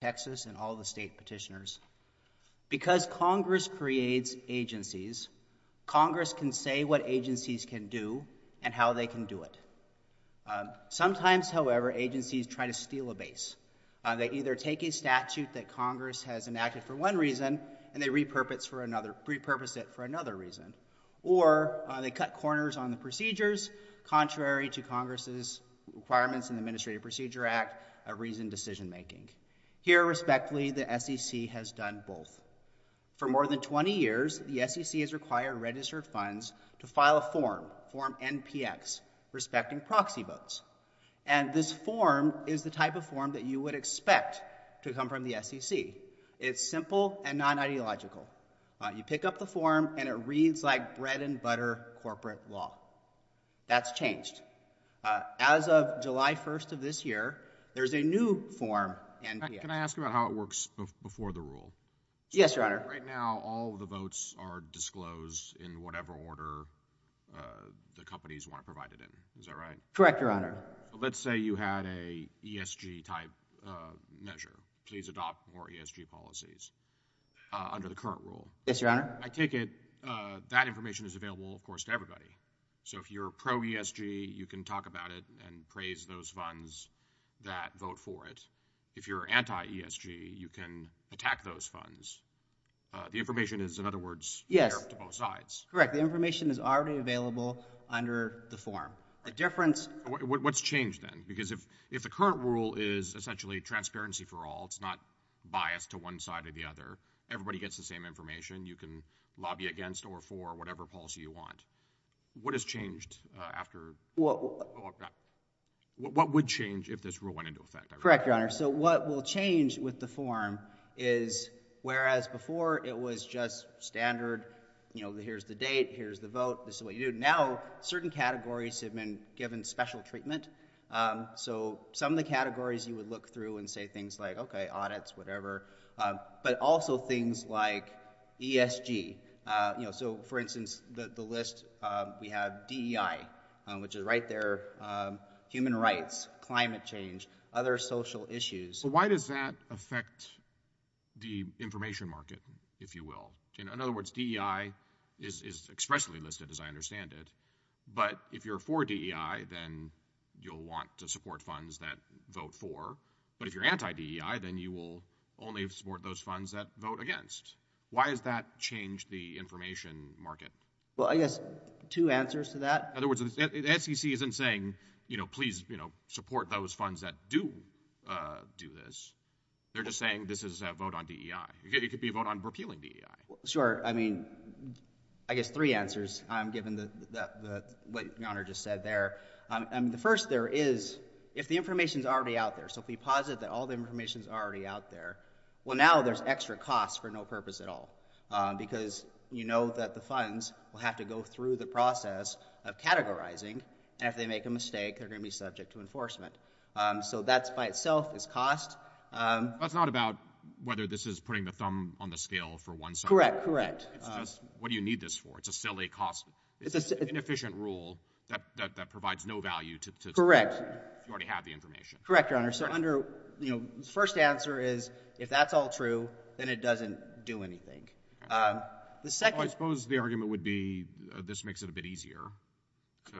Texas and all the state petitioners. Because Congress creates agencies, Congress can say what agencies can do and how they can do it. Sometimes, however, agencies try to steal a base. They either take a statute that Congress has enacted for one reason and they repurpose it for another reason, or they cut corners on the procedures contrary to Congress's requirements in the Administrative Procedure Act of reasoned decision making. Here, respectfully, the SEC has done both. For more than 20 years, the SEC has required registered funds to file a form, form NPX, respecting proxy votes. And this form is the type of form that you would expect to come from the SEC. It's simple and non-ideological. You pick up the form and it reads like bread and butter corporate law. That's changed. As of July 1st of this year, there's a new form, NPX. Can I ask about how it works before the rule? Yes, Your Honor. Right now, all of the votes are disclosed in whatever order the companies want to provide it in. Is that right? Correct, Your Honor. Let's say you had a ESG type measure. Please adopt more ESG policies under the current rule. Yes, Your Honor. I take it that information is available, of course, to everybody. So if you're pro-ESG, you can talk about it and praise those funds that vote for it. If you're anti-ESG, you can attack those funds. The information is, in other words, there to both sides. Yes. Correct. The information is already available under the form. The difference— What's changed then? Because if the current rule is essentially transparency for all, it's not biased to one side or the other, everybody gets the same information. You can lobby against or for whatever policy you want. What has changed after— What would change if this rule went into effect? Correct, Your Honor. So what will change with the form is, whereas before it was just standard, you know, here's the date, here's the vote, this is what you do, now certain categories have been given special treatment. So some of the categories you would look through and say things like, okay, audits, whatever, but also things like ESG, you know, so for instance, the list, we have DEI, which is right there, human rights, climate change, other social issues. Why does that affect the information market, if you will? In other words, DEI is expressly listed, as I understand it, but if you're for DEI, then you'll want to support funds that vote for. But if you're anti-DEI, then you will only support those funds that vote against. Why has that changed the information market? Well, I guess two answers to that. In other words, the SEC isn't saying, you know, please, you know, support those funds that do do this. They're just saying this is a vote on DEI. It could be a vote on repealing DEI. Sure. I mean, I guess three answers, given what Your Honor just said there. The first there is, if the information's already out there, so if we posit that all the information's already out there, well, now there's extra cost for no purpose at all, because you know that the funds will have to go through the process of categorizing, and if they make a mistake, they're going to be subject to enforcement. So that's by itself is cost. But it's not about whether this is putting the thumb on the scale for one side. Correct. Correct. It's just, what do you need this for? It's a silly cost. It's an inefficient rule that provides no value to support if you already have the information. Correct. Correct, Your Honor. So under, you know, the first answer is, if that's all true, then it doesn't do anything. The second— Well, I suppose the argument would be, this makes it a bit easier to,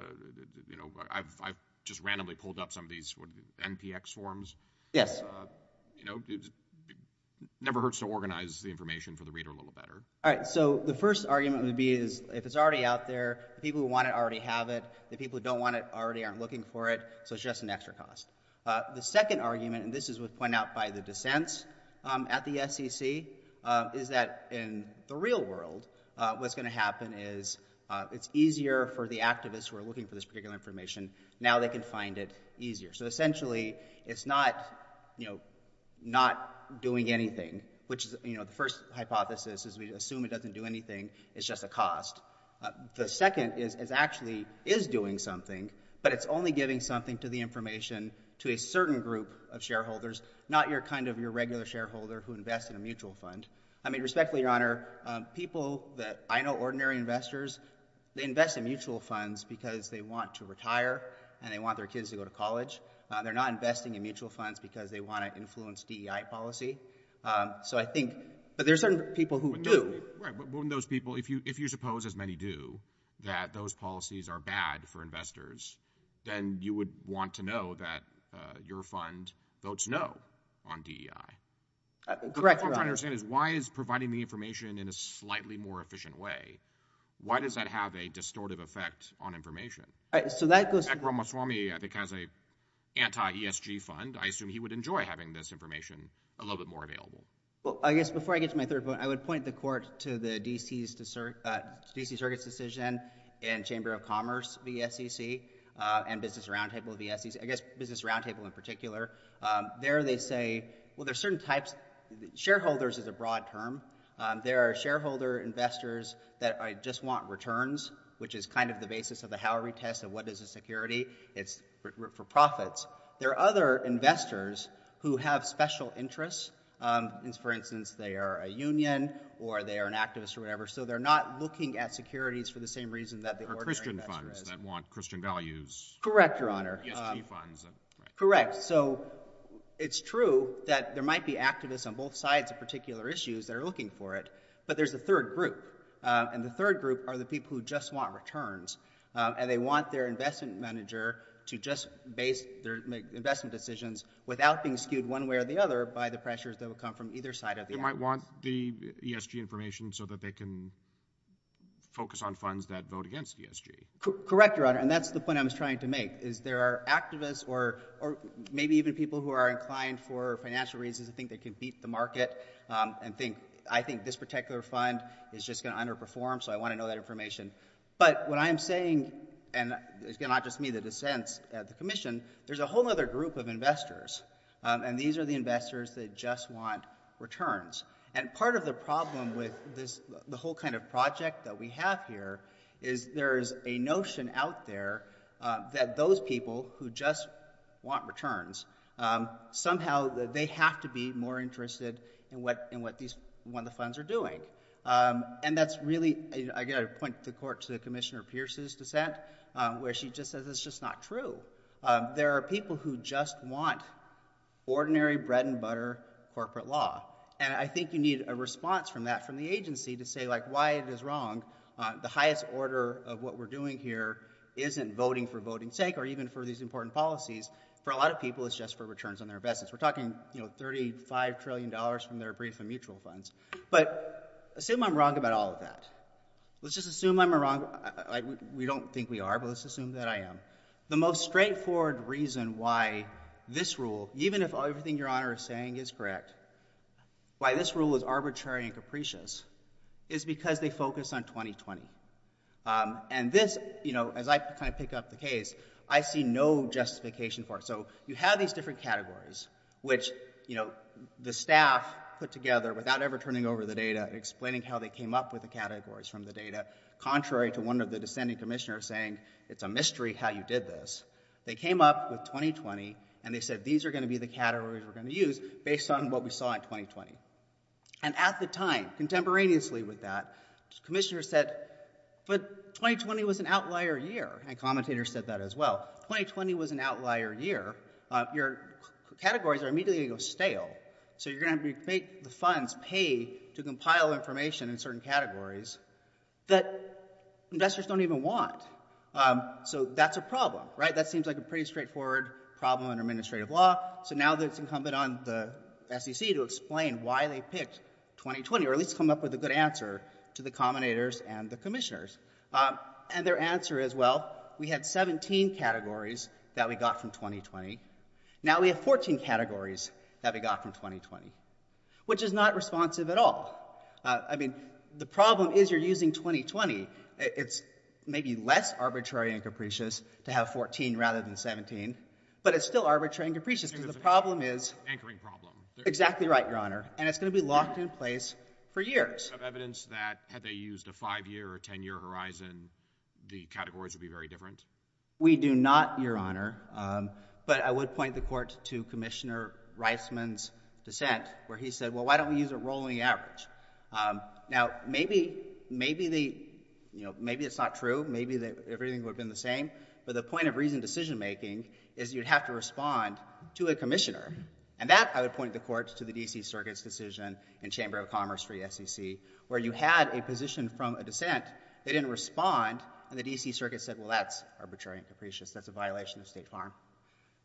you know, I've just randomly pulled up some of these NPX forms. Yes. You know, it never hurts to organize the information for the reader a little better. All right. So the first argument would be is, if it's already out there, the people who want it already have it. The people who don't want it already aren't looking for it, so it's just an extra cost. The second argument, and this is what's pointed out by the dissents at the SEC, is that in the real world, what's going to happen is, it's easier for the activists who are looking for this particular information, now they can find it easier. So essentially, it's not, you know, not doing anything, which is, you know, the first hypothesis is we assume it doesn't do anything, it's just a cost. The second is, it actually is doing something, but it's only giving something to the information to a certain group of shareholders, not your kind of your regular shareholder who invests in a mutual fund. I mean, respectfully, Your Honor, people that I know, ordinary investors, they invest in mutual funds because they want to retire and they want their kids to go to college. They're not investing in mutual funds because they want to influence DEI policy. So I think, but there are certain people who do. Right, but wouldn't those people, if you suppose, as many do, that those policies are bad for investors, then you would want to know that your fund votes no on DEI. Correct, Your Honor. But what I'm trying to understand is, why is providing the information in a slightly more efficient way, why does that have a distortive effect on information? So that goes to the… Ekram Maswamy, I think, has an anti-ESG fund. I assume he would enjoy having this information a little bit more available. Well, I guess before I get to my third point, I would point the court to the DC Circuit's decision in Chamber of Commerce vs. SEC and Business Roundtable vs. SEC. I guess Business Roundtable in particular. There they say, well, there's certain types. Shareholders is a broad term. There are shareholder investors that just want returns, which is kind of the basis of the Howery test of what is a security. It's for profits. There are other investors who have special interests, for instance, they are a union or they are an activist or whatever, so they're not looking at securities for the same reason that the ordinary investor is. Or Christian funds that want Christian values. Correct, Your Honor. ESG funds. Correct. So it's true that there might be activists on both sides of particular issues that are looking for it, but there's a third group, and the third group are the people who just want returns, and they want their investment manager to just base their investment decisions without being skewed one way or the other by the pressures that will come from either side of the aisle. They might want the ESG information so that they can focus on funds that vote against ESG. Correct, Your Honor. And that's the point I was trying to make, is there are activists or maybe even people who are inclined for financial reasons to think they can beat the market and think, I think this particular fund is just going to underperform, so I want to know that information. But what I'm saying, and it's going to not just be me that dissents at the Commission, there's a whole other group of investors, and these are the investors that just want returns. And part of the problem with this, the whole kind of project that we have here, is there is a notion out there that those people who just want returns, somehow they have to be more interested in what the funds are doing. And that's really, I got to point the court to Commissioner Pierce's dissent, where she just says it's just not true. There are people who just want ordinary bread-and-butter corporate law, and I think you need a response from that, from the agency, to say why it is wrong. The highest order of what we're doing here isn't voting for voting's sake, or even for these important policies. For a lot of people, it's just for returns on their investments. We're talking, you know, $35 trillion from their brief and mutual funds. But assume I'm wrong about all of that. Let's just assume I'm wrong, like we don't think we are, but let's assume that I am. The most straightforward reason why this rule, even if everything Your Honor is saying is correct, why this rule is arbitrary and capricious, is because they focus on 2020. And this, you know, as I kind of pick up the case, I see no justification for it. So you have these different categories, which, you know, the staff put together without ever turning over the data, explaining how they came up with the categories from the data, contrary to one of the dissenting commissioners saying it's a mystery how you did this. They came up with 2020, and they said these are going to be the categories we're going to use based on what we saw in 2020. And at the time, contemporaneously with that, commissioners said, but 2020 was an outlier year. And commentators said that as well. 2020 was an outlier year. Your categories are immediately going to go stale. So you're going to have to make the funds pay to compile information in certain categories that investors don't even want. So that's a problem, right? That seems like a pretty straightforward problem in administrative law. So now it's incumbent on the SEC to explain why they picked 2020, or at least come up with a good answer to the commentators and the commissioners. And their answer is, well, we had 17 categories that we got from 2020. Now we have 14 categories that we got from 2020, which is not responsive at all. I mean, the problem is you're using 2020. It's maybe less arbitrary and capricious to have 14 rather than 17. But it's still arbitrary and capricious because the problem is. Anchoring problem. Exactly right, Your Honor. And it's going to be locked in place for years. Do you have evidence that had they used a five-year or a 10-year horizon, the categories would be very different? We do not, Your Honor. But I would point the court to Commissioner Reisman's dissent, where he said, well, why don't we use a rolling average? Now maybe it's not true. Maybe everything would have been the same. But the point of reasoned decision-making is you'd have to respond to a commissioner. And that, I would point the court to the D.C. Circuit's decision in the Chamber of Commerce for the SEC, where you had a position from a dissent. They didn't respond. And the D.C. Circuit said, well, that's arbitrary and capricious. That's a violation of state farm.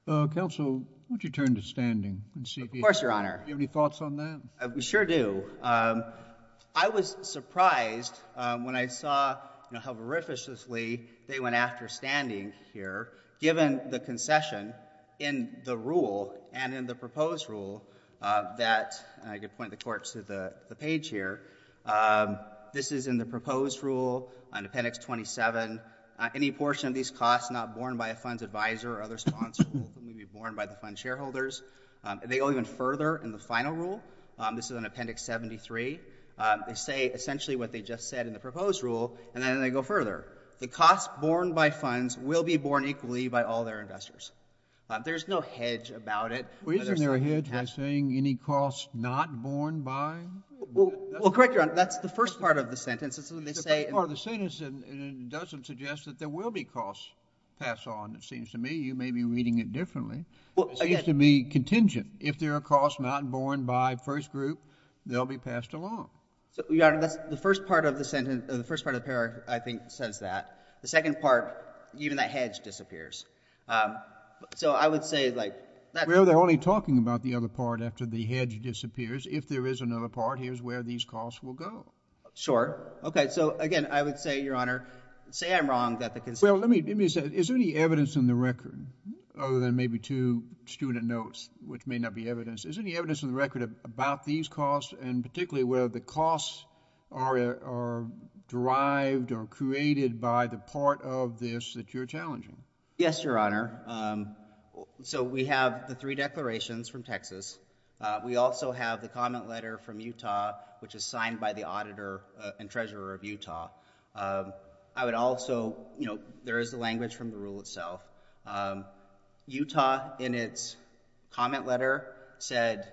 Counsel, would you turn to standing? Of course, Your Honor. Do you have any thoughts on that? We sure do. I was surprised when I saw how verificiously they went after standing here, given the concession in the rule and in the proposed rule that, and I could point the court to the page here, this is in the proposed rule, in Appendix 27, any portion of these costs not borne by a fund's advisor or other sponsor will be borne by the fund's shareholders. They go even further in the final rule, this is in Appendix 73, they say essentially what they just said in the proposed rule, and then they go further. The costs borne by funds will be borne equally by all their investors. There's no hedge about it. Well, isn't there a hedge by saying any costs not borne by? Well, correct, Your Honor. That's the first part of the sentence. It's when they say— It's the first part of the sentence, and it doesn't suggest that there will be costs passed on, it seems to me. You may be reading it differently. It seems to me contingent. If there are costs not borne by first group, they'll be passed along. So, Your Honor, that's the first part of the sentence—the first part of the paragraph, I think, says that. The second part, even that hedge disappears. So I would say, like— Well, they're only talking about the other part after the hedge disappears. If there is another part, here's where these costs will go. Sure. Okay. So, again, I would say, Your Honor, say I'm wrong that the— Well, let me say, is there any evidence in the record, other than maybe two student notes, which may not be evidence, is there any evidence in the record about these costs, and particularly whether the costs are derived or created by the part of this that you're challenging? Yes, Your Honor. So we have the three declarations from Texas. We also have the comment letter from Utah, which is signed by the auditor and treasurer of Utah. I would also—you know, there is the language from the rule itself. Utah, in its comment letter, said,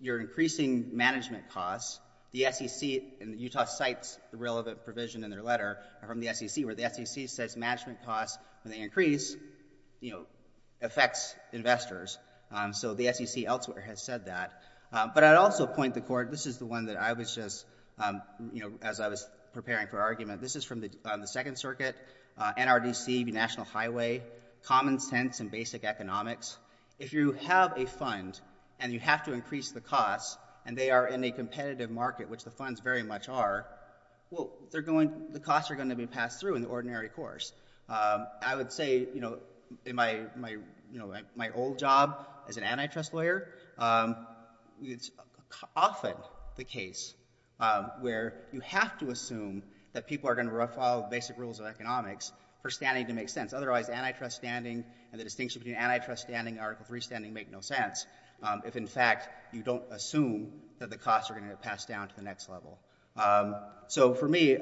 You're increasing management costs. The SEC—and Utah cites the relevant provision in their letter from the SEC, where the SEC says management costs, when they increase, you know, affects investors. So the SEC elsewhere has said that. But I'd also point the court—this is the one that I was just, you know, as I was preparing for argument. This is from the Second Circuit, NRDC, the National Highway, common sense and basic economics. If you have a fund, and you have to increase the costs, and they are in a competitive market, which the funds very much are, well, they're going—the costs are going to be passed through in the ordinary course. I would say, you know, in my old job as an antitrust lawyer, it's often the case where you have to assume that people are going to follow the basic rules of economics for standing to make sense. Otherwise, antitrust standing and the distinction between antitrust standing and Article 3 standing make no sense if, in fact, you don't assume that the costs are going to get passed down to the next level. So for me,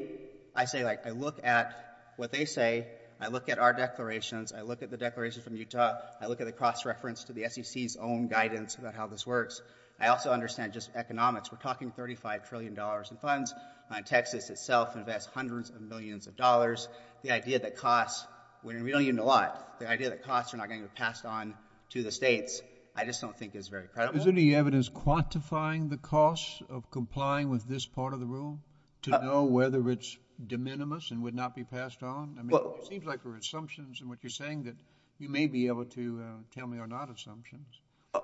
I say, like, I look at what they say, I look at our declarations, I look at the declaration from Utah, I look at the cost reference to the SEC's own guidance about how this works. I also understand just economics. We're talking $35 trillion in funds. Texas itself invests hundreds of millions of dollars. The idea that costs—we don't even know why—the idea that costs are not going to be passed on to the states, I just don't think is very credible. Is there any evidence quantifying the costs of complying with this part of the rule to know whether it's de minimis and would not be passed on? I mean, it seems like there are assumptions in what you're saying that you may be able to tell me are not assumptions.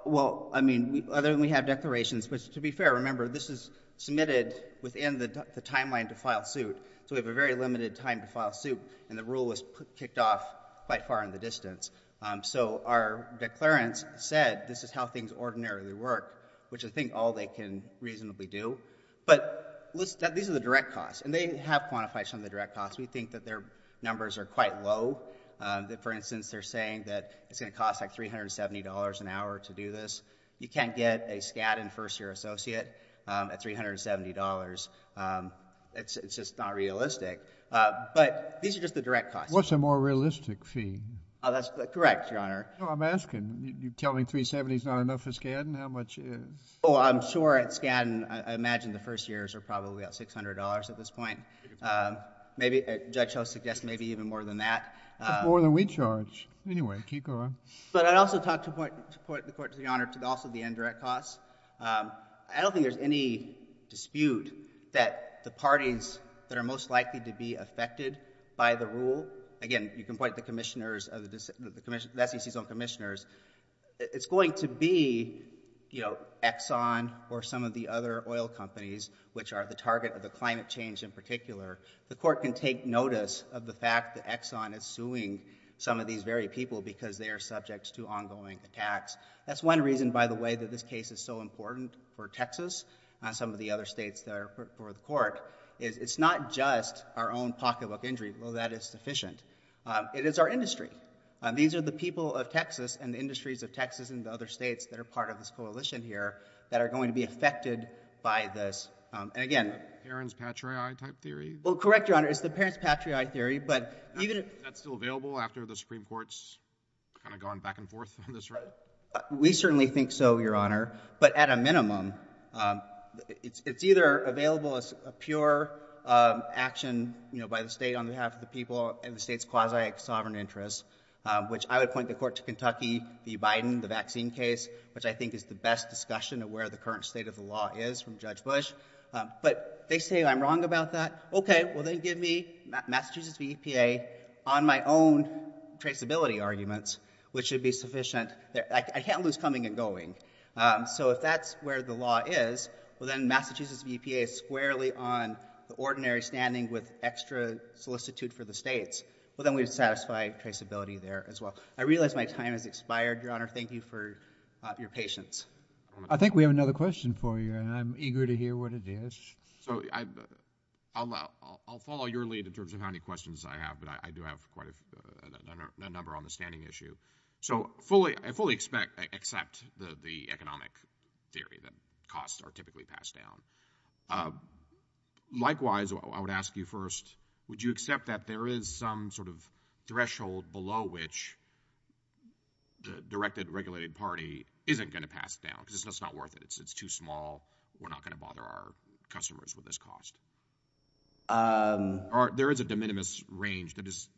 Well, I mean, other than we have declarations, which, to be fair, remember, this is submitted within the timeline to file suit, so we have a very limited time to file suit, and the rule was kicked off quite far in the distance. So our declarants said this is how things ordinarily work, which I think all they can reasonably do. But these are the direct costs, and they have quantified some of the direct costs. We think that their numbers are quite low, that, for instance, they're saying that it's going to cost, like, $370 an hour to do this. You can't get a Skadden first-year associate at $370. It's just not realistic. But these are just the direct costs. What's a more realistic fee? Oh, that's correct, Your Honor. No, I'm asking. You're telling me $370 is not enough for Skadden? How much is? Oh, I'm sure at Skadden, I imagine the first-years are probably about $600 at this point. Maybe Judge Ho suggests maybe even more than that. That's more than we charge. Anyway, keep going. But I'd also like to point the Court, Your Honor, to also the indirect costs. I don't think there's any dispute that the parties that are most likely to be affected by the rule, again, you can point to the SEC's own commissioners, it's going to be Exxon or some of the other oil companies, which are the target of the climate change in particular. The Court can take notice of the fact that Exxon is suing some of these very people because they are subject to ongoing attacks. That's one reason, by the way, that this case is so important for Texas and some of the other states that are for the Court. It's not just our own pocketbook injury, although that is sufficient. It is our industry. These are the people of Texas and the industries of Texas and the other states that are part of this coalition here that are going to be affected by this. And again... The Perrins-Patriot type theory? Well, correct, Your Honor. It's the Perrins-Patriot theory. But even if... Is that still available after the Supreme Court's gone back and forth on this right? We certainly think so, Your Honor. But at a minimum, it's either available as a pure action by the state on behalf of the people and the state's quasi-sovereign interests, which I would point the Court to Kentucky, the Biden, the vaccine case, which I think is the best discussion of where the current state of the law is from Judge Bush. But they say I'm wrong about that. Okay. Well, then give me Massachusetts v. EPA on my own traceability arguments, which should be sufficient. I can't lose coming and going. So if that's where the law is, well, then Massachusetts v. EPA is squarely on the ordinary standing with extra solicitude for the states. Well, then we'd satisfy traceability there as well. I realize my time has expired, Your Honor. Thank you for your patience. I think we have another question for you, and I'm eager to hear what it is. So I'll follow your lead in terms of how many questions I have, but I do have quite a number on the standing issue. So I fully accept the economic theory that costs are typically passed down. Likewise, I would ask you first, would you accept that there is some sort of threshold below which the directed, regulated party isn't going to pass it down, because it's just not worth it. It's too small. We're not going to bother our customers with this cost. There is a de minimis range that is—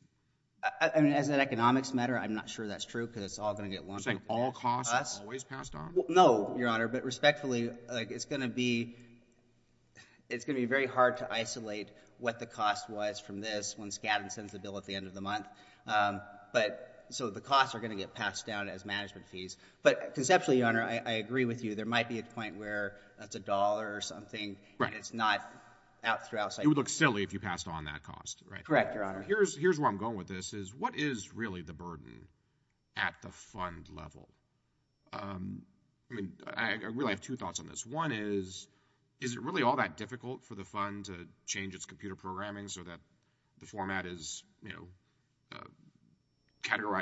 I mean, as an economics matter, I'm not sure that's true, because it's all going to get lumped— You're saying all costs are always passed on? No, Your Honor. But respectfully, it's going to be very hard to isolate what the cost was from this when so the costs are going to get passed down as management fees. But conceptually, Your Honor, I agree with you. There might be a point where that's a dollar or something, and it's not out throughout— It would look silly if you passed on that cost, right? Correct, Your Honor. Here's where I'm going with this, is what is really the burden at the fund level? I mean, I really have two thoughts on this. One is, is it really all that difficult for the fund to change its computer programming so that the format is, you know,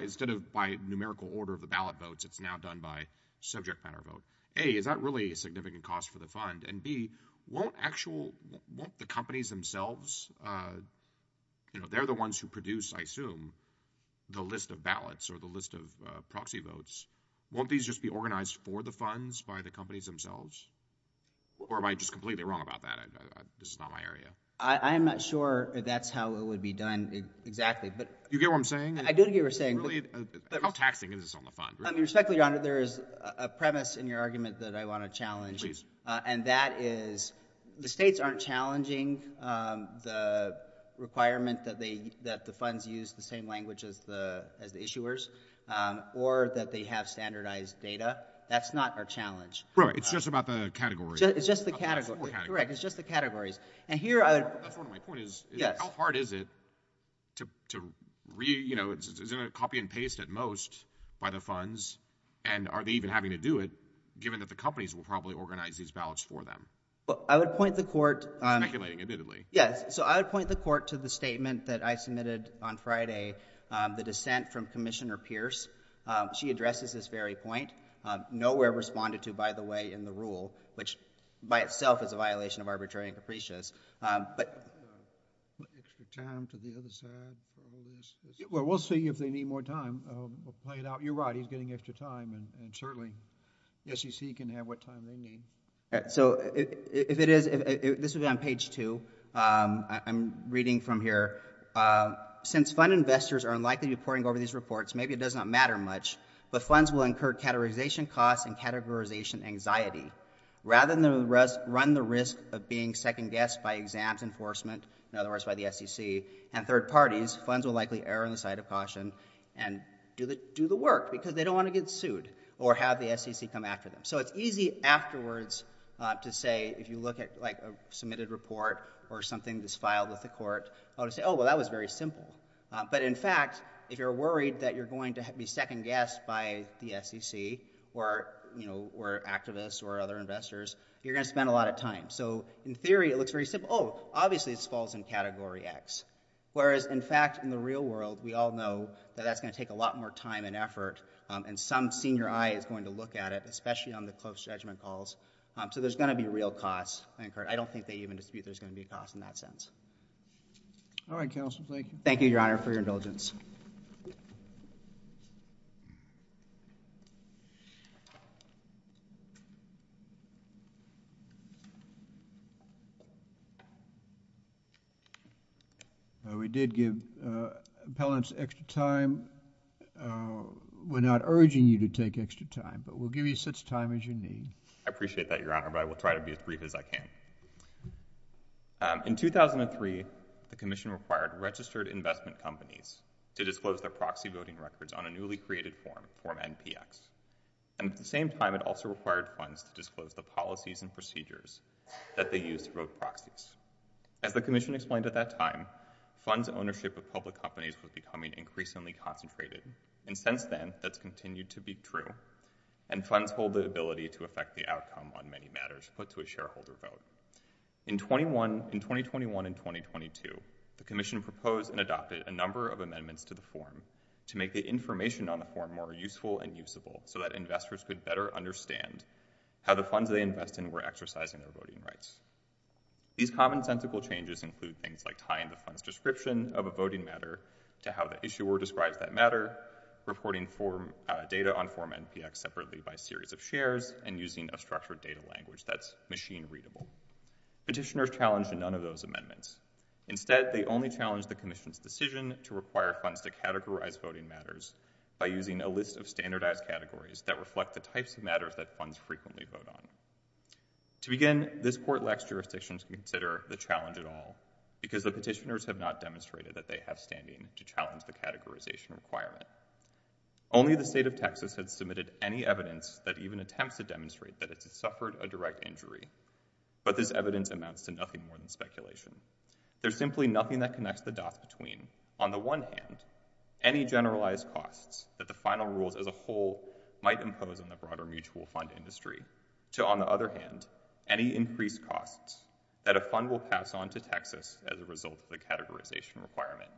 instead of by numerical order of the ballot votes, it's now done by subject matter vote? A, is that really a significant cost for the fund? And B, won't the companies themselves—you know, they're the ones who produce, I assume, the list of ballots or the list of proxy votes—won't these just be organized for the funds by the companies themselves? Or am I just completely wrong about that? This is not my area. I'm not sure that's how it would be done exactly, but— Do you get what I'm saying? I do get what you're saying. How taxing is this on the fund? I mean, respectfully, Your Honor, there is a premise in your argument that I want to challenge, and that is the states aren't challenging the requirement that the funds use the same language as the issuers or that they have standardized data. That's not our challenge. Right. It's just about the categories. It's just the categories. Correct. It's just the categories. And here I would— That's one of my points. Yes. How hard is it to—you know, is it a copy and paste at most by the funds? And are they even having to do it, given that the companies will probably organize these ballots for them? Well, I would point the Court— Speculating, admittedly. Yes. So I would point the Court to the statement that I submitted on Friday, the dissent from Commissioner Pierce. She addresses this very point. Nowhere responded to, by the way, in the rule, which by itself is a violation of arbitrary and capricious. But— Extra time to the other side for all this. Well, we'll see if they need more time. We'll play it out. You're right. He's getting extra time. And certainly, the SEC can have what time they need. All right. So if it is—this would be on page 2. I'm reading from here. Since fund investors are unlikely to be reporting over these reports, maybe it does not matter She addresses this very point. Nowhere responded to, by the way, in the rule. Which by itself is a violation of arbitrary and capricious. costs and categorization anxiety, rather than run the risk of being second-guessed by exams enforcement, in other words by the SEC and third parties, funds will likely err on the side of caution and do the work because they don't want to get sued or have the SEC come after them. So it's easy afterwards to say, if you look at like a submitted report or something that's filed with the Court, oh, well, that was very simple. But in fact, if you're worried that you're going to be second-guessed by the SEC or activists or other investors, you're going to spend a lot of time. So in theory, it looks very simple. Oh, obviously, this falls in Category X. Whereas in fact, in the real world, we all know that that's going to take a lot more time and effort, and some senior eye is going to look at it, especially on the close judgment calls. So there's going to be real costs. I don't think they even dispute there's going to be a cost in that sense. All right, counsel. Thank you. Thank you, Your Honor, for your indulgence. We did give appellants extra time. We're not urging you to take extra time, but we'll give you such time as you need. I appreciate that, Your Honor, but I will try to be as brief as I can. In 2003, the Commission required registered investment companies to disclose their proxy voting records on a newly created form, Form NPX. And at the same time, it also required funds to disclose the policies and procedures that they used to vote proxies. As the Commission explained at that time, funds' ownership of public companies was becoming increasingly concentrated, and since then, that's continued to be true, and funds hold the ability to affect the outcome on many matters put to a shareholder vote. In 2021 and 2022, the Commission proposed and adopted a number of amendments to the form to make the information on the form more useful and usable so that investors could better understand how the funds they invest in were exercising their voting rights. These commonsensical changes include things like tying the fund's description of a voting matter to how the issuer describes that matter, reporting data on Form NPX separately by series of shares, and using a structured data language that's machine-readable. Petitioners challenged none of those amendments. Instead, they only challenged the Commission's decision to require funds to categorize voting matters by using a list of standardized categories that reflect the types of matters that funds frequently vote on. To begin, this Court lacks jurisdiction to consider the challenge at all because the petitioners have not demonstrated that they have standing to challenge the categorization requirement. Only the state of Texas has submitted any evidence that even attempts to demonstrate that it has suffered a direct injury, but this evidence amounts to nothing more than speculation. There's simply nothing that connects the dots between, on the one hand, any generalized costs that the final rules as a whole might impose on the broader mutual fund industry, to on the other hand, any increased costs that a fund will pass on to Texas as a result of the categorization requirement.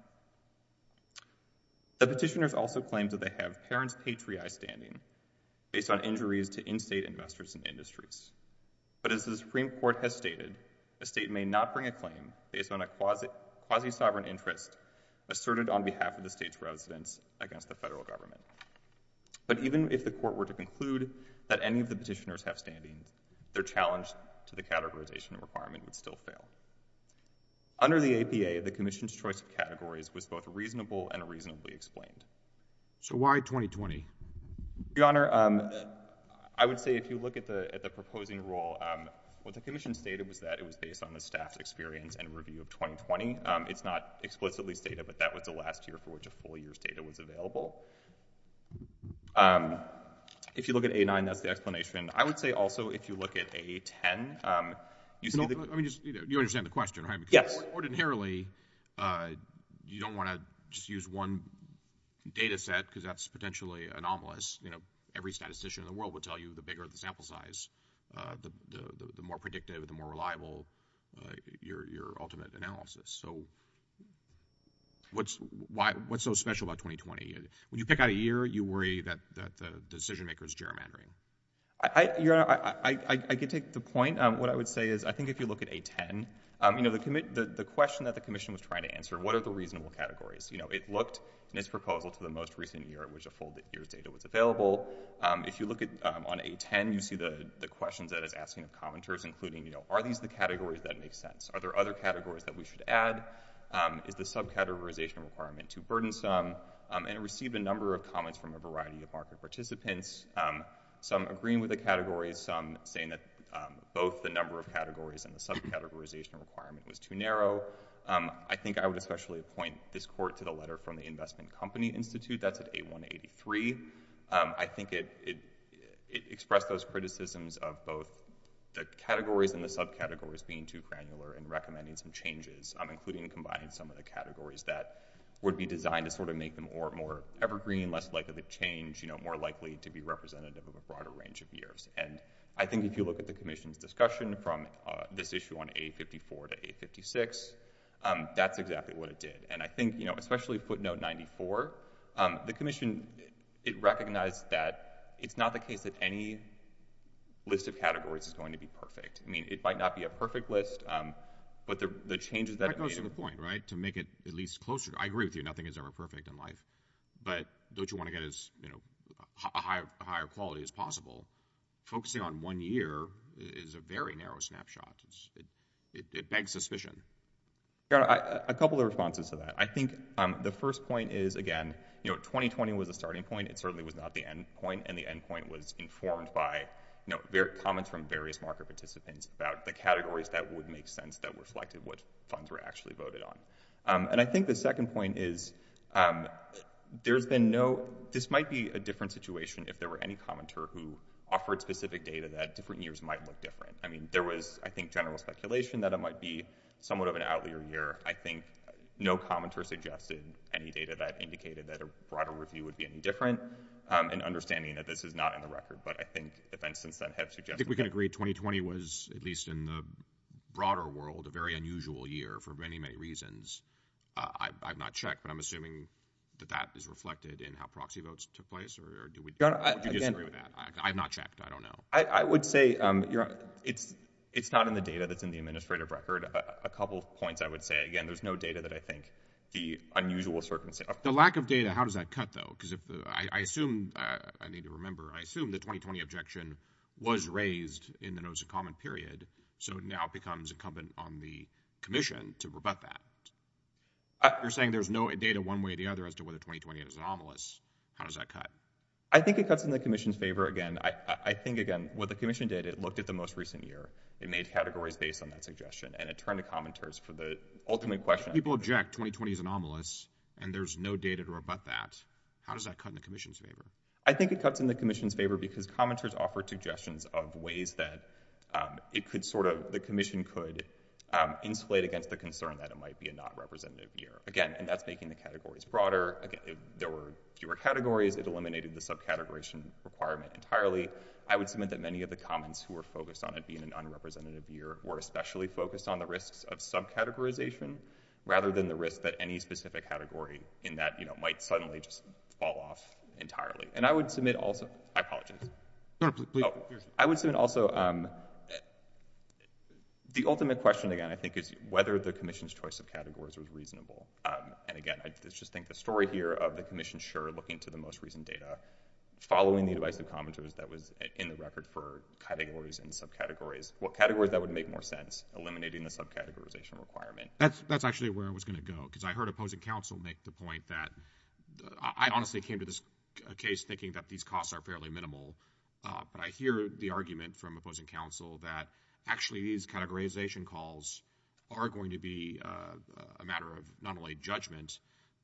The petitioners also claimed that they have parent's patriarch standing based on injuries to in-state investors and industries, but as the Supreme Court has stated, a state may not bring a claim based on a quasi-sovereign interest asserted on behalf of the state's residents against the federal government. But even if the Court were to conclude that any of the petitioners have standing, their challenge to the categorization requirement would still fail. Under the APA, the Commission's choice of categories was both reasonable and reasonably explained. So why 2020? Your Honor, I would say if you look at the proposing rule, what the Commission stated was that it was based on the staff's experience and review of 2020. It's not explicitly stated, but that was the last year for which a full year's data was available. If you look at A-9, that's the explanation. I would say also, if you look at A-10, you see the— I mean, you understand the question, right? Yes. Because ordinarily, you don't want to just use one data set because that's potentially anomalous. You know, every statistician in the world would tell you the bigger the sample size, the more predictive, the more reliable your ultimate analysis. So what's so special about 2020? When you pick out a year, you worry that the decision-maker is gerrymandering. Your Honor, I can take the point. What I would say is, I think if you look at A-10, you know, the question that the Commission was trying to answer, what are the reasonable categories? You know, it looked, in its proposal, to the most recent year at which a full year's data was available. If you look at—on A-10, you see the questions that it's asking of commenters, including, you know, are these the categories that make sense? Are there other categories that we should add? Is the subcategorization requirement too burdensome? And it received a number of comments from a variety of market participants, some agreeing with the categories, some saying that both the number of categories and the subcategorization requirement was too narrow. I think I would especially point this Court to the letter from the Investment Company Institute that's at A-183. I think it expressed those criticisms of both the categories and the subcategories being be designed to sort of make them more evergreen, less likely to change, you know, more likely to be representative of a broader range of years. And I think if you look at the Commission's discussion from this issue on A-54 to A-56, that's exactly what it did. And I think, you know, especially footnote 94, the Commission, it recognized that it's not the case that any list of categories is going to be perfect. I mean, it might not be a perfect list, but the changes that it made— I agree with you, nothing is ever perfect in life, but don't you want to get as, you know, a higher quality as possible? Focusing on one year is a very narrow snapshot. It begs suspicion. A couple of responses to that. I think the first point is, again, you know, 2020 was a starting point. It certainly was not the end point, and the end point was informed by, you know, comments from various market participants about the categories that would make sense that reflected what funds were actually voted on. And I think the second point is, there's been no—this might be a different situation if there were any commenter who offered specific data that different years might look different. I mean, there was, I think, general speculation that it might be somewhat of an outlier year. I think no commenter suggested any data that indicated that a broader review would be any different, and understanding that this is not in the record, but I think events since then have suggested— I think we can agree 2020 was, at least in the broader world, a very unusual year for many, many reasons. I've not checked, but I'm assuming that that is reflected in how proxy votes took place, or do we— Your Honor, again— Would you disagree with that? I've not checked. I don't know. I would say it's not in the data that's in the administrative record. A couple of points I would say, again, there's no data that I think the unusual circumstances— The lack of data, how does that cut, though? Because I assume—I need to remember—I assume the 2020 objection was raised in the to rebut that. You're saying there's no data one way or the other as to whether 2020 is anomalous. How does that cut? I think it cuts in the commission's favor, again. I think, again, what the commission did, it looked at the most recent year. It made categories based on that suggestion, and it turned to commenters for the ultimate question— If people object 2020 is anomalous, and there's no data to rebut that, how does that cut in the commission's favor? I think it cuts in the commission's favor because commenters offered suggestions of ways that it could sort of—the commission could insulate against the concern that it might be a non-representative year. Again, and that's making the categories broader. Again, if there were fewer categories, it eliminated the sub-categorization requirement entirely. I would submit that many of the comments who were focused on it being an unrepresentative year were especially focused on the risks of sub-categorization rather than the risk that any specific category in that, you know, might suddenly just fall off entirely. And I would submit also—I apologize. I would submit also, the ultimate question, again, I think is whether the commission's choice of categories was reasonable, and again, I just think the story here of the commission sure looking to the most recent data, following the advice of commenters that was in the record for categories and sub-categories, what categories that would make more sense, eliminating the sub-categorization requirement. That's actually where I was going to go, because I heard opposing counsel make the But I hear the argument from opposing counsel that actually these categorization calls are going to be a matter of not only judgment,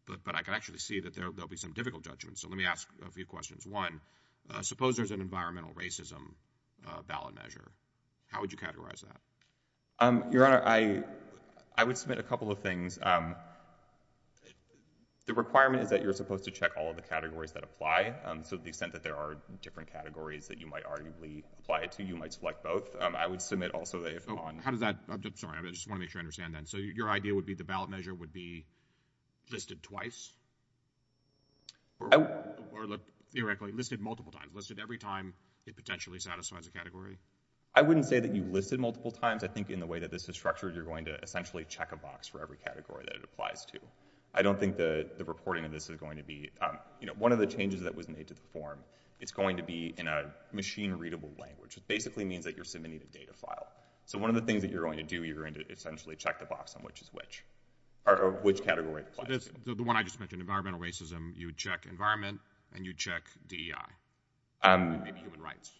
but I can actually see that there will be some difficult judgments. So let me ask a few questions. One, suppose there's an environmental racism ballot measure. How would you categorize that? Your Honor, I would submit a couple of things. The requirement is that you're supposed to check all of the categories that apply. So the extent that there are different categories that you might arguably apply it to, you might select both. I would submit also that if on... Oh, how does that... I'm sorry. I just want to make sure I understand that. So your idea would be the ballot measure would be listed twice or, theoretically, listed multiple times, listed every time it potentially satisfies a category? I wouldn't say that you listed multiple times. I think in the way that this is structured, you're going to essentially check a box for every category that it applies to. I don't think the reporting of this is going to be... you know, one of the changes that was made to the form, it's going to be in a machine-readable language, which basically means that you're submitting a data file. So one of the things that you're going to do, you're going to essentially check the box on which is which, or which category it applies to. So the one I just mentioned, environmental racism, you would check environment and you'd check DEI and maybe human rights?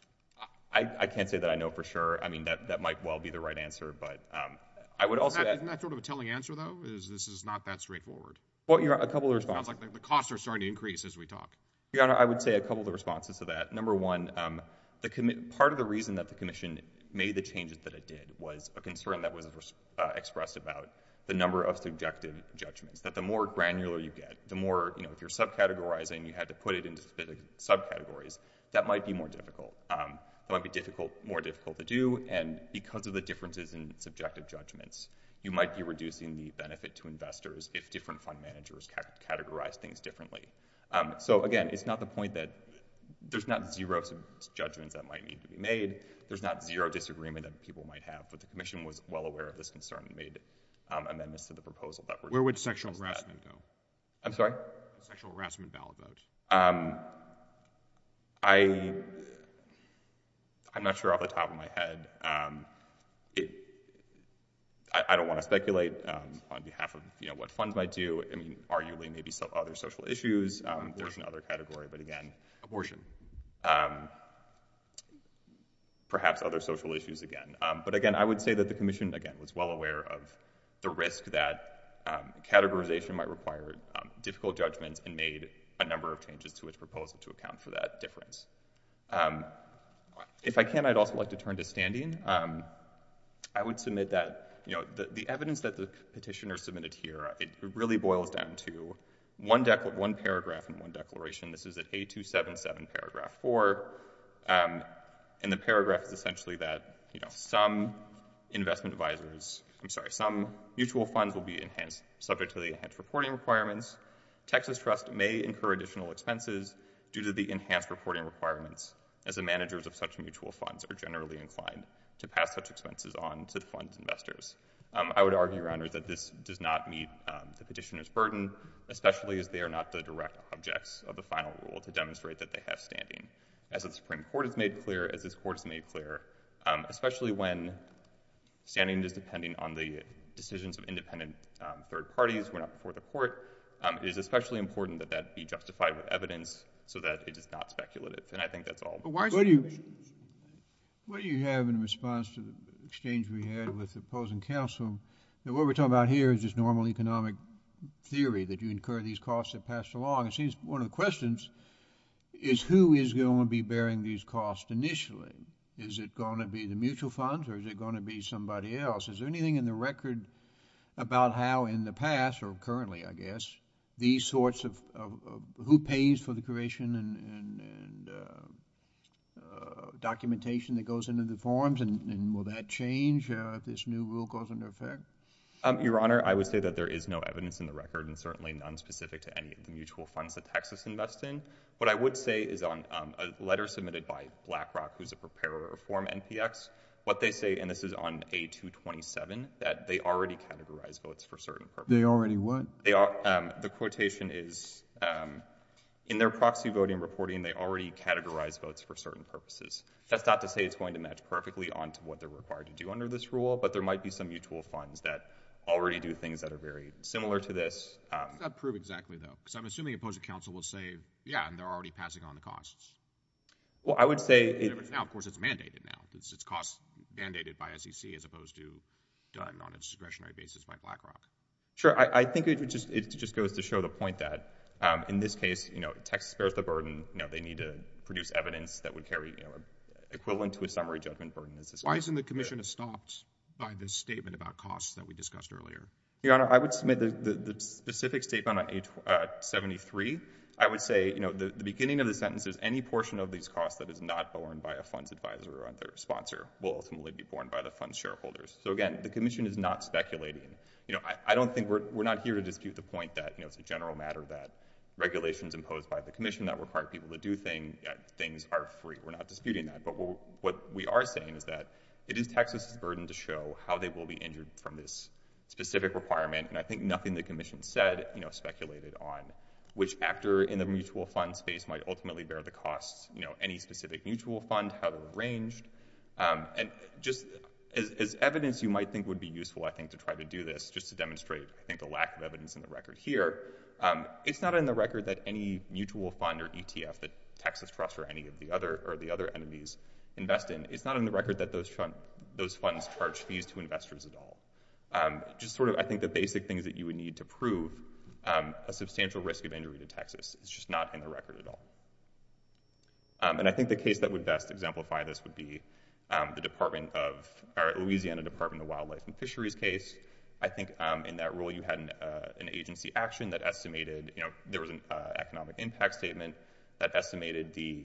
I can't say that I know for sure. I mean, that might well be the right answer, but I would also... Isn't that sort of a telling answer, though, is this is not that straightforward? Well, your Honor, a couple of responses... It sounds like the costs are starting to increase as we talk. Your Honor, I would say a couple of responses to that. Number one, part of the reason that the Commission made the changes that it did was a concern that was expressed about the number of subjective judgments, that the more granular you get, the more... you know, if you're subcategorizing, you had to put it into subcategories, that might be more difficult. It might be more difficult to do, and because of the differences in subjective judgments, you might be reducing the benefit to investors if different fund managers categorize things differently. So, again, it's not the point that... there's not zero judgments that might need to be made. There's not zero disagreement that people might have, but the Commission was well aware of this concern and made amendments to the proposal that were... Where would sexual harassment go? I'm sorry? Sexual harassment ballot vote. I... I'm not sure off the top of my head. I don't want to speculate on behalf of, you know, what funds might do. I mean, arguably, maybe other social issues. Abortion. There's another category, but again... Abortion. Perhaps other social issues again, but again, I would say that the Commission, again, was well aware of the risk that categorization might require difficult judgments and made a number of changes to its proposal to account for that difference. If I can, I'd also like to turn to standing. I would submit that, you know, the evidence that the petitioner submitted here, it really boils down to one paragraph and one declaration. This is at 8277, paragraph 4, and the paragraph is essentially that, you know, some investment advisors... I'm sorry, some mutual funds will be enhanced subject to the enhanced reporting requirements. Texas Trust may incur additional expenses due to the enhanced reporting requirements as the managers of such mutual funds are generally inclined to pass such expenses on to the fund investors. I would argue, Your Honor, that this does not meet the petitioner's burden, especially as they are not the direct objects of the final rule to demonstrate that they have standing. As the Supreme Court has made clear, as this Court has made clear, especially when standing is depending on the decisions of independent third parties, we're not before the Court, it is especially important that that be justified with evidence so that it is not speculative, and I think that's all... But why... What you have in response to the exchange we had with the opposing counsel, what we're talking about here is just normal economic theory, that you incur these costs that pass along. It seems one of the questions is who is going to be bearing these costs initially? Is it going to be the mutual funds or is it going to be somebody else? Is there anything in the record about how in the past, or currently I guess, these sorts of... who pays for the creation and documentation that goes into the forms, and will that change if this new rule goes into effect? Your Honor, I would say that there is no evidence in the record, and certainly none specific to any of the mutual funds that Texas invests in. What I would say is on a letter submitted by BlackRock, who is a preparer of form NPX, what they say, and this is on A227, that they already categorized votes for certain purposes. They already what? The quotation is, in their proxy voting reporting, they already categorized votes for certain purposes. That's not to say it's going to match perfectly on to what they're required to do under this rule, but there might be some mutual funds that already do things that are very similar to this. How does that prove exactly, though? Because I'm assuming opposing counsel will say, yeah, and they're already passing on the costs. Well, I would say... Now, of course, it's mandated now. It's costs mandated by SEC as opposed to done on a discretionary basis by BlackRock. Sure. I think it just goes to show the point that, in this case, you know, Texas bears the burden. You know, they need to produce evidence that would carry, you know, equivalent to a summary judgment burden. Why isn't the commission estopped by this statement about costs that we discussed earlier? Your Honor, I would submit the specific statement on A73. I would say, you know, the beginning of the sentence is, any portion of these costs that is not borne by a funds advisor or other sponsor will ultimately be borne by the funds shareholders. So, again, the commission is not speculating. You know, I don't think we're... we're not here to dispute the point that, you know, it's a general matter that regulations imposed by the commission that require people to do things are free. We're not disputing that, but what we are saying is that it is Texas' burden to show how they will be injured from this specific requirement, and I think nothing the commission said, you know, speculated on which actor in the mutual fund space might ultimately bear the costs, you know, any specific mutual fund, how they're arranged. And just as evidence you might think would be useful, I think, to try to do this, just to demonstrate, I think, the lack of evidence in the record here, it's not in the record that any mutual fund or ETF that Texas trusts or any of the other... or the other enemies invest in. It's not in the record that those funds charge fees to investors at all. Just sort of, I think, the basic things that you would need to prove a substantial risk of injury to Texas. It's just not in the record at all. And I think the case that would best exemplify this would be the Department of... or Louisiana Department of Wildlife and Fisheries case. I think in that rule you had an agency action that estimated, you know, there was an economic impact statement that estimated the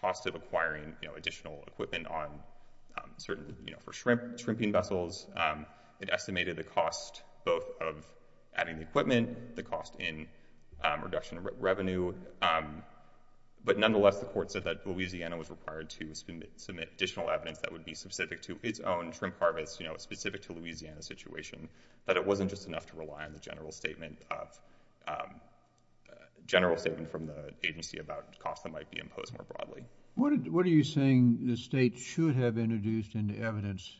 cost of acquiring, you know, additional equipment on certain, you know, for shrimp, shrimping vessels. It estimated the cost both of adding the equipment, the cost in reduction of revenue. But nonetheless, the court said that Louisiana was required to submit additional evidence that would be specific to its own shrimp harvest, you know, specific to Louisiana's situation, that it wasn't just enough to rely on the general statement of... general statement from the agency about costs that might be imposed more broadly. What are you saying the state should have introduced into evidence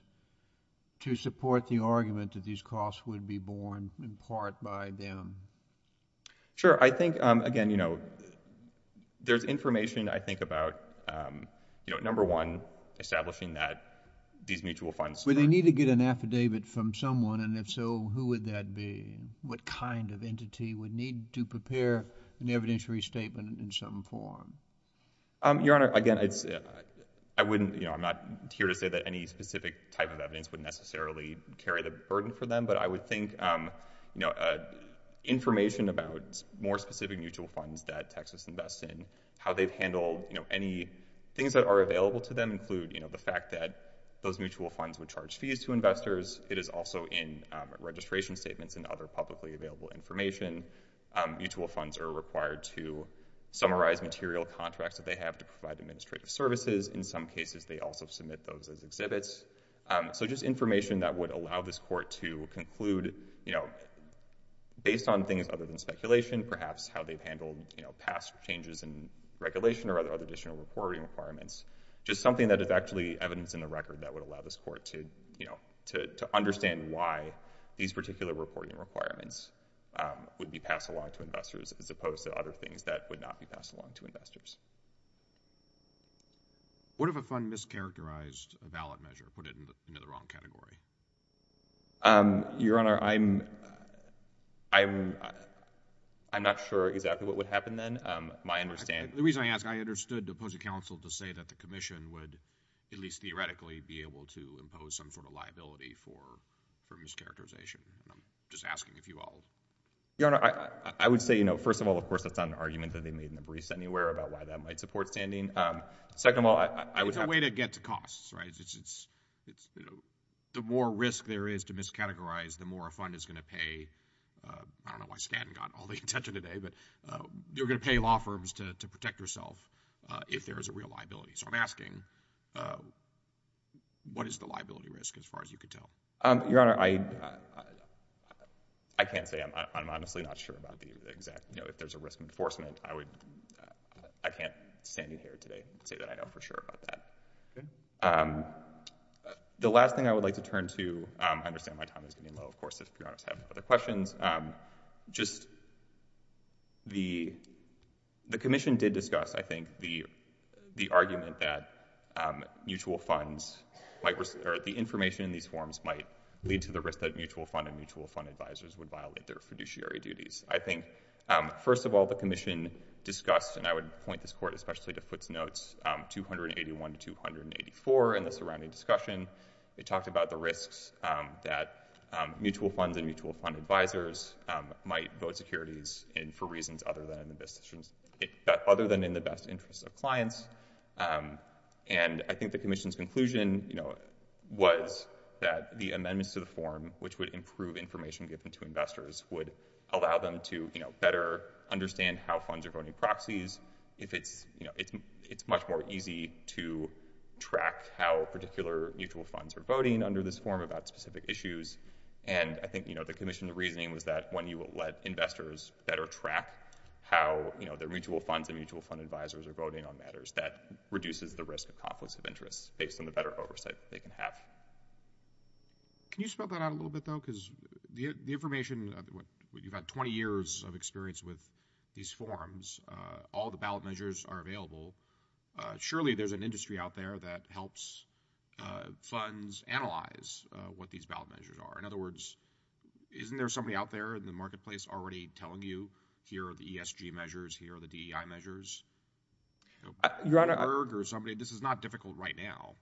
to support the argument that these costs would be borne in part by them? Sure. I think, again, you know, there's information, I think, about, you know, number one, establishing that these mutual funds... Would they need to get an affidavit from someone? And if so, who would that be? What kind of entity would need to prepare an evidence restatement in some form? Your Honor, again, I wouldn't, you know, I'm not here to say that any specific type of evidence would necessarily carry the burden for them, but I would think, you know, information about more specific mutual funds that Texas invests in, how they've handled, you know, any things that are available to them include, you know, the fact that those mutual funds would charge fees to investors. It is also in registration statements and other publicly available information. Mutual funds are required to summarize material contracts that they have to provide administrative services. In some cases, they also submit those as exhibits. So just information that would allow this court to conclude, you know, based on things other than speculation, perhaps how they've handled, you know, past changes in regulation or other additional reporting requirements, just something that is actually evidence in the record that would allow this court to, you know, to understand why these particular reporting requirements would be passed along to investors as opposed to other things that would not be passed along to investors. What if a fund mischaracterized a valid measure, put it into the wrong category? Your Honor, I'm, I'm, I'm not sure exactly what would happen then. My understanding— The reason I ask, I understood the opposing counsel to say that the Commission would at least be able to impose some sort of liability for, for mischaracterization, and I'm just asking if you all— Your Honor, I, I, I would say, you know, first of all, of course, that's not an argument that they made in the briefs anywhere about why that might support standing. Um, second of all, I, I would have— It's a way to get to costs, right? It's, it's, it's, you know, the more risk there is to miscategorize, the more a fund is going to pay, uh, I don't know why Stanton got all the attention today, but, uh, you're going to pay law firms to, to protect yourself, uh, if there is a real liability. So I'm asking, uh, what is the liability risk as far as you can tell? Um, Your Honor, I, I, I, I can't say. I'm, I'm, I'm honestly not sure about the exact, you know, if there's a risk enforcement. I would, uh, I can't stand in here today and say that I know for sure about that. Okay. Um, the last thing I would like to turn to, um, I understand my time is getting low, of course, if Your Honors have no other questions, um, just the, the Commission did discuss, I think, the, the argument that, um, mutual funds might, or the information in these forms might lead to the risk that mutual fund and mutual fund advisors would violate their fiduciary duties. I think, um, first of all, the Commission discussed, and I would point this Court especially to Foote's notes, um, 281 to 284 in the surrounding discussion, it talked about the risks, um, that, um, mutual funds and mutual fund advisors, um, might vote securities in for reasons other than in the best, other than in the best interest of clients, um, and I think the Commission's conclusion, you know, was that the amendments to the form, which would improve information given to investors, would allow them to, you know, better understand how funds are voting proxies, if it's, you know, it's, it's much more easy to track how particular mutual funds are voting under this form about specific issues, and I think, you know, the how, you know, the mutual funds and mutual fund advisors are voting on matters that reduces the risk of conflicts of interest based on the better oversight they can have. Can you spell that out a little bit, though, because the, the information, you've had 20 years of experience with these forms, uh, all the ballot measures are available, uh, surely there's an industry out there that helps, uh, funds analyze, uh, what these ballot measures are. In other words, isn't there somebody out there in the marketplace already telling you here are the ESG measures, here are the DEI measures, you know, Bloomberg or somebody, this is not difficult right now.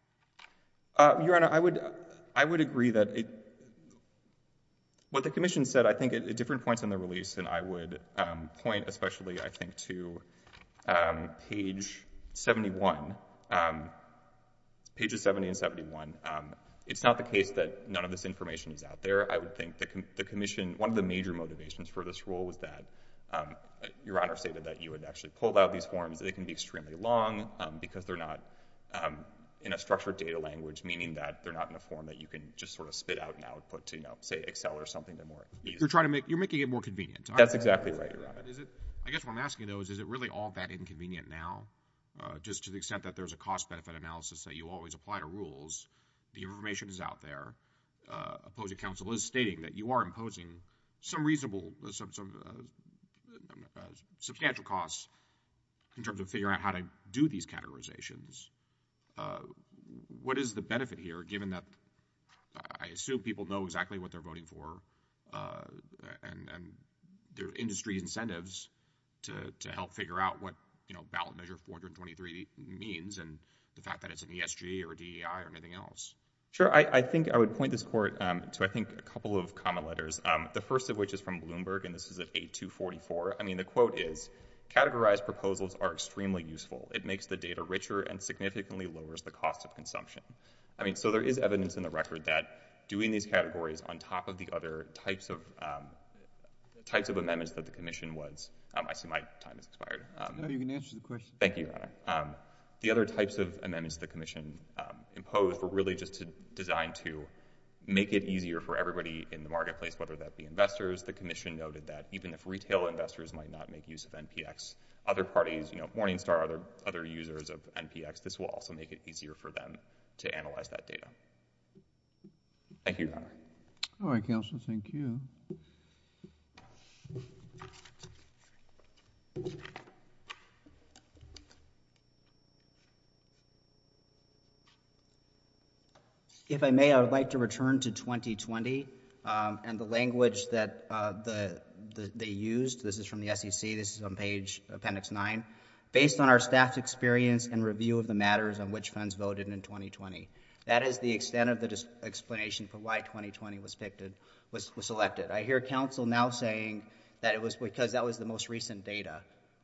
Uh, Your Honor, I would, I would agree that it, what the Commission said, I think at different points in the release, and I would, um, point especially, I think, to, um, page 71, um, pages 70 and 71, um, it's not the case that none of this information is out there. I would think the, the Commission, one of the major motivations for this rule was that, um, Your Honor stated that you would actually pull out these forms, they can be extremely long, um, because they're not, um, in a structured data language, meaning that they're not in a form that you can just sort of spit out and output to, you know, say Excel or something to more ease. You're trying to make, you're making it more convenient. That's exactly right, Your Honor. Is it, I guess what I'm asking though is, is it really all that inconvenient now, uh, just to the extent that there's a cost-benefit analysis that you always apply to rules, the that you are imposing some reasonable, some, some, um, substantial costs in terms of figuring out how to do these categorizations, uh, what is the benefit here given that, I assume people know exactly what they're voting for, uh, and, and there are industry incentives to, to help figure out what, you know, ballot measure 423 means and the fact that it's an ESG or a DEI or anything else. Sure. I, I think I would point this Court, um, to I think a couple of common letters, um, the first of which is from Bloomberg and this is at 8244. I mean, the quote is, categorized proposals are extremely useful. It makes the data richer and significantly lowers the cost of consumption. I mean, so there is evidence in the record that doing these categories on top of the other types of, um, types of amendments that the Commission was, um, I see my time has No, you can answer the question. Thank you, Your Honor. And, um, the other types of amendments the Commission, um, imposed were really just designed to make it easier for everybody in the marketplace, whether that be investors, the Commission noted that even if retail investors might not make use of NPX, other parties, you know, Morningstar, other, other users of NPX, this will also make it easier for them to analyze that data. Thank you, Your Honor. All right, counsel. Thank you. Thank you, Your Honor. If I may, I would like to return to 2020, um, and the language that, uh, the, the, they used. This is from the SEC. This is on page appendix nine. Based on our staff experience and review of the matters on which funds voted in 2020, that is the extent of the explanation for why 2020 was picked and was, was selected. I hear counsel now saying that it was because that was the most recent data.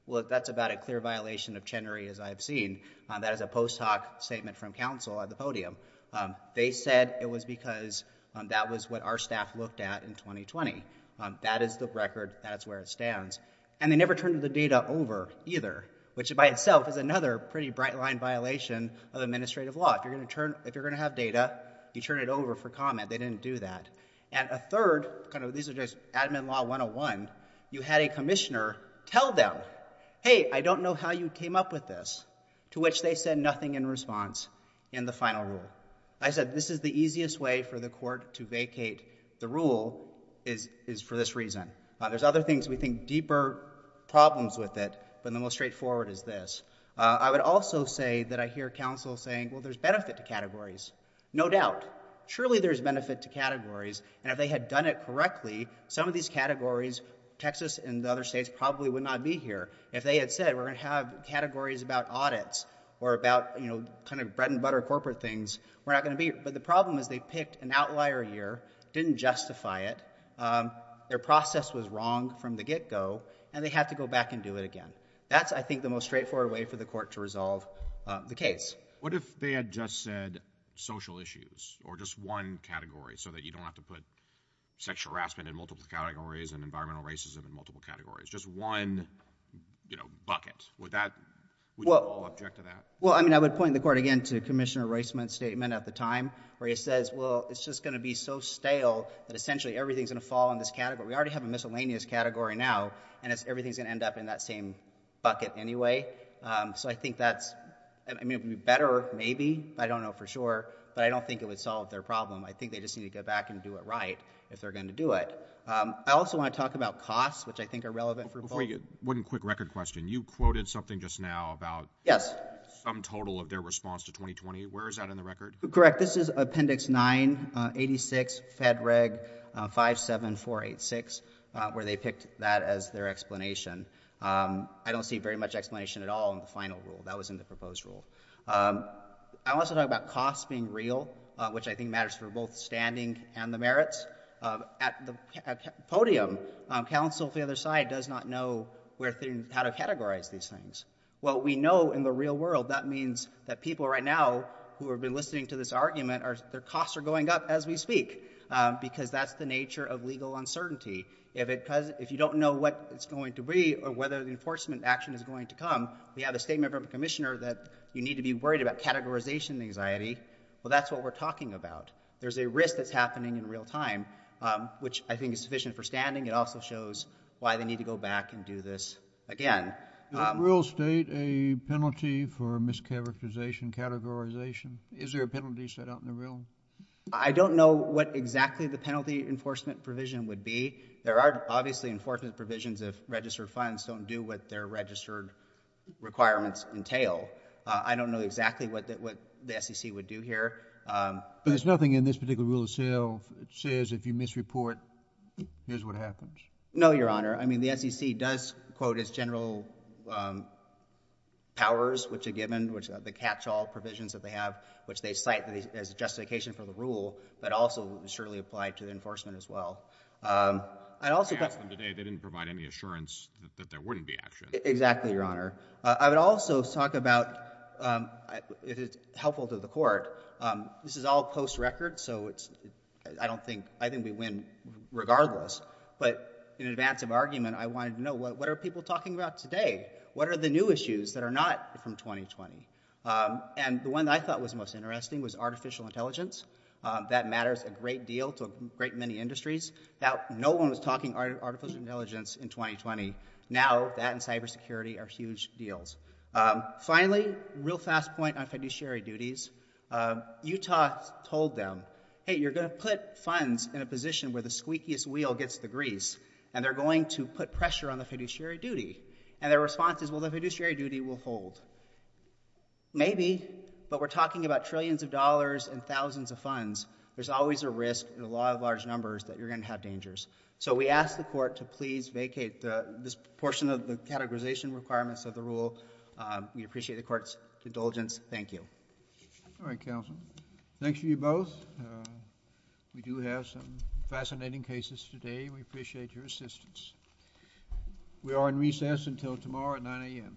Well, that's about a clear violation of Chenery, as I've seen, um, that is a post hoc statement from counsel at the podium. Um, they said it was because, um, that was what our staff looked at in 2020. Um, that is the record, that's where it stands, and they never turned the data over either, which by itself is another pretty bright line violation of administrative law. If you're going to turn, if you're going to have data, you turn it over for comment. They didn't do that. And a third, kind of, these are just admin law 101, you had a commissioner tell them, hey, I don't know how you came up with this, to which they said nothing in response in the final rule. I said, this is the easiest way for the court to vacate the rule is, is for this reason. Uh, there's other things we think deeper problems with it, but the most straightforward is this. Uh, I would also say that I hear counsel saying, well, there's benefit to categories. No doubt. Surely there's benefit to categories, and if they had done it correctly, some of these categories, Texas and the other states probably would not be here. If they had said, we're going to have categories about audits or about, you know, kind of bread and butter corporate things, we're not going to be, but the problem is they picked an outlier year, didn't justify it. Um, their process was wrong from the get go and they have to go back and do it again. That's, I think the most straightforward way for the court to resolve the case. What if they had just said social issues or just one category so that you don't have to put sexual harassment in multiple categories and environmental racism in multiple categories, just one, you know, bucket with that object to that? Well, I mean, I would point the court again to commissioner Riceman statement at the time where he says, well, it's just going to be so stale that essentially everything's going to fall in this category. We already have a miscellaneous category now and it's, everything's going to end up in that same bucket anyway. Um, so I think that's, I mean, it'd be better maybe, I don't know for sure, but I don't think it would solve their problem. I think they just need to go back and do it right if they're going to do it. Um, I also want to talk about costs, which I think are relevant for you. One quick record question. You quoted something just now about some total of their response to 2020 where is that in the record? Correct. Um, this is appendix nine, uh, 86 fed reg, uh, five, seven, four, eight, six, uh, where they picked that as their explanation. Um, I don't see very much explanation at all in the final rule that was in the proposed rule. Um, I also talk about costs being real, uh, which I think matters for both standing and the merits, um, at the podium, um, counsel for the other side does not know where things, how to categorize these things. Well, we know in the real world that means that people right now who have been listening to this argument are, their costs are going up as we speak, um, because that's the nature of legal uncertainty. If it, because if you don't know what it's going to be or whether the enforcement action is going to come, we have a statement from a commissioner that you need to be worried about categorization anxiety. Well, that's what we're talking about. There's a risk that's happening in real time, um, which I think is sufficient for standing. It also shows why they need to go back and do this again. Um, real state, a penalty for mischaracterization categorization. Is there a penalty set out in the real? I don't know what exactly the penalty enforcement provision would be. There are obviously enforcement provisions of registered funds don't do what their registered requirements entail. I don't know exactly what the, what the SEC would do here. Um, but there's nothing in this particular rule of sale that says if you misreport, here's what happens. No, Your Honor. I mean, the SEC does quote as general, um, powers, which are given, which are the catch all provisions that they have, which they cite as a justification for the rule, but also surely applied to the enforcement as well. Um, I also asked them today, they didn't provide any assurance that there wouldn't be action. Exactly. Your Honor. I would also talk about, um, if it's helpful to the court, um, this is all post record. So it's, I don't think, I think we win regardless, but in advance of argument, I wanted to know what, what are people talking about today? What are the new issues that are not from 2020? Um, and the one that I thought was most interesting was artificial intelligence. Um, that matters a great deal to a great many industries that no one was talking artificial intelligence in 2020. Now that and cybersecurity are huge deals. Um, finally, real fast point on fiduciary duties. Um, Utah told them, Hey, you're going to put funds in a position where the squeakiest wheel gets the grease and they're going to put pressure on the fiduciary duty. And their response is, well, the fiduciary duty will hold maybe, but we're talking about trillions of dollars and thousands of funds. There's always a risk in a lot of large numbers that you're going to have dangers. So we asked the court to please vacate the, this portion of the categorization requirements of the rule. Um, we appreciate the court's indulgence. Thank you. All right, counsel. Thanks for you both. Uh, we do have some fascinating cases today. We appreciate your assistance. We are in recess until tomorrow at 9 a.m.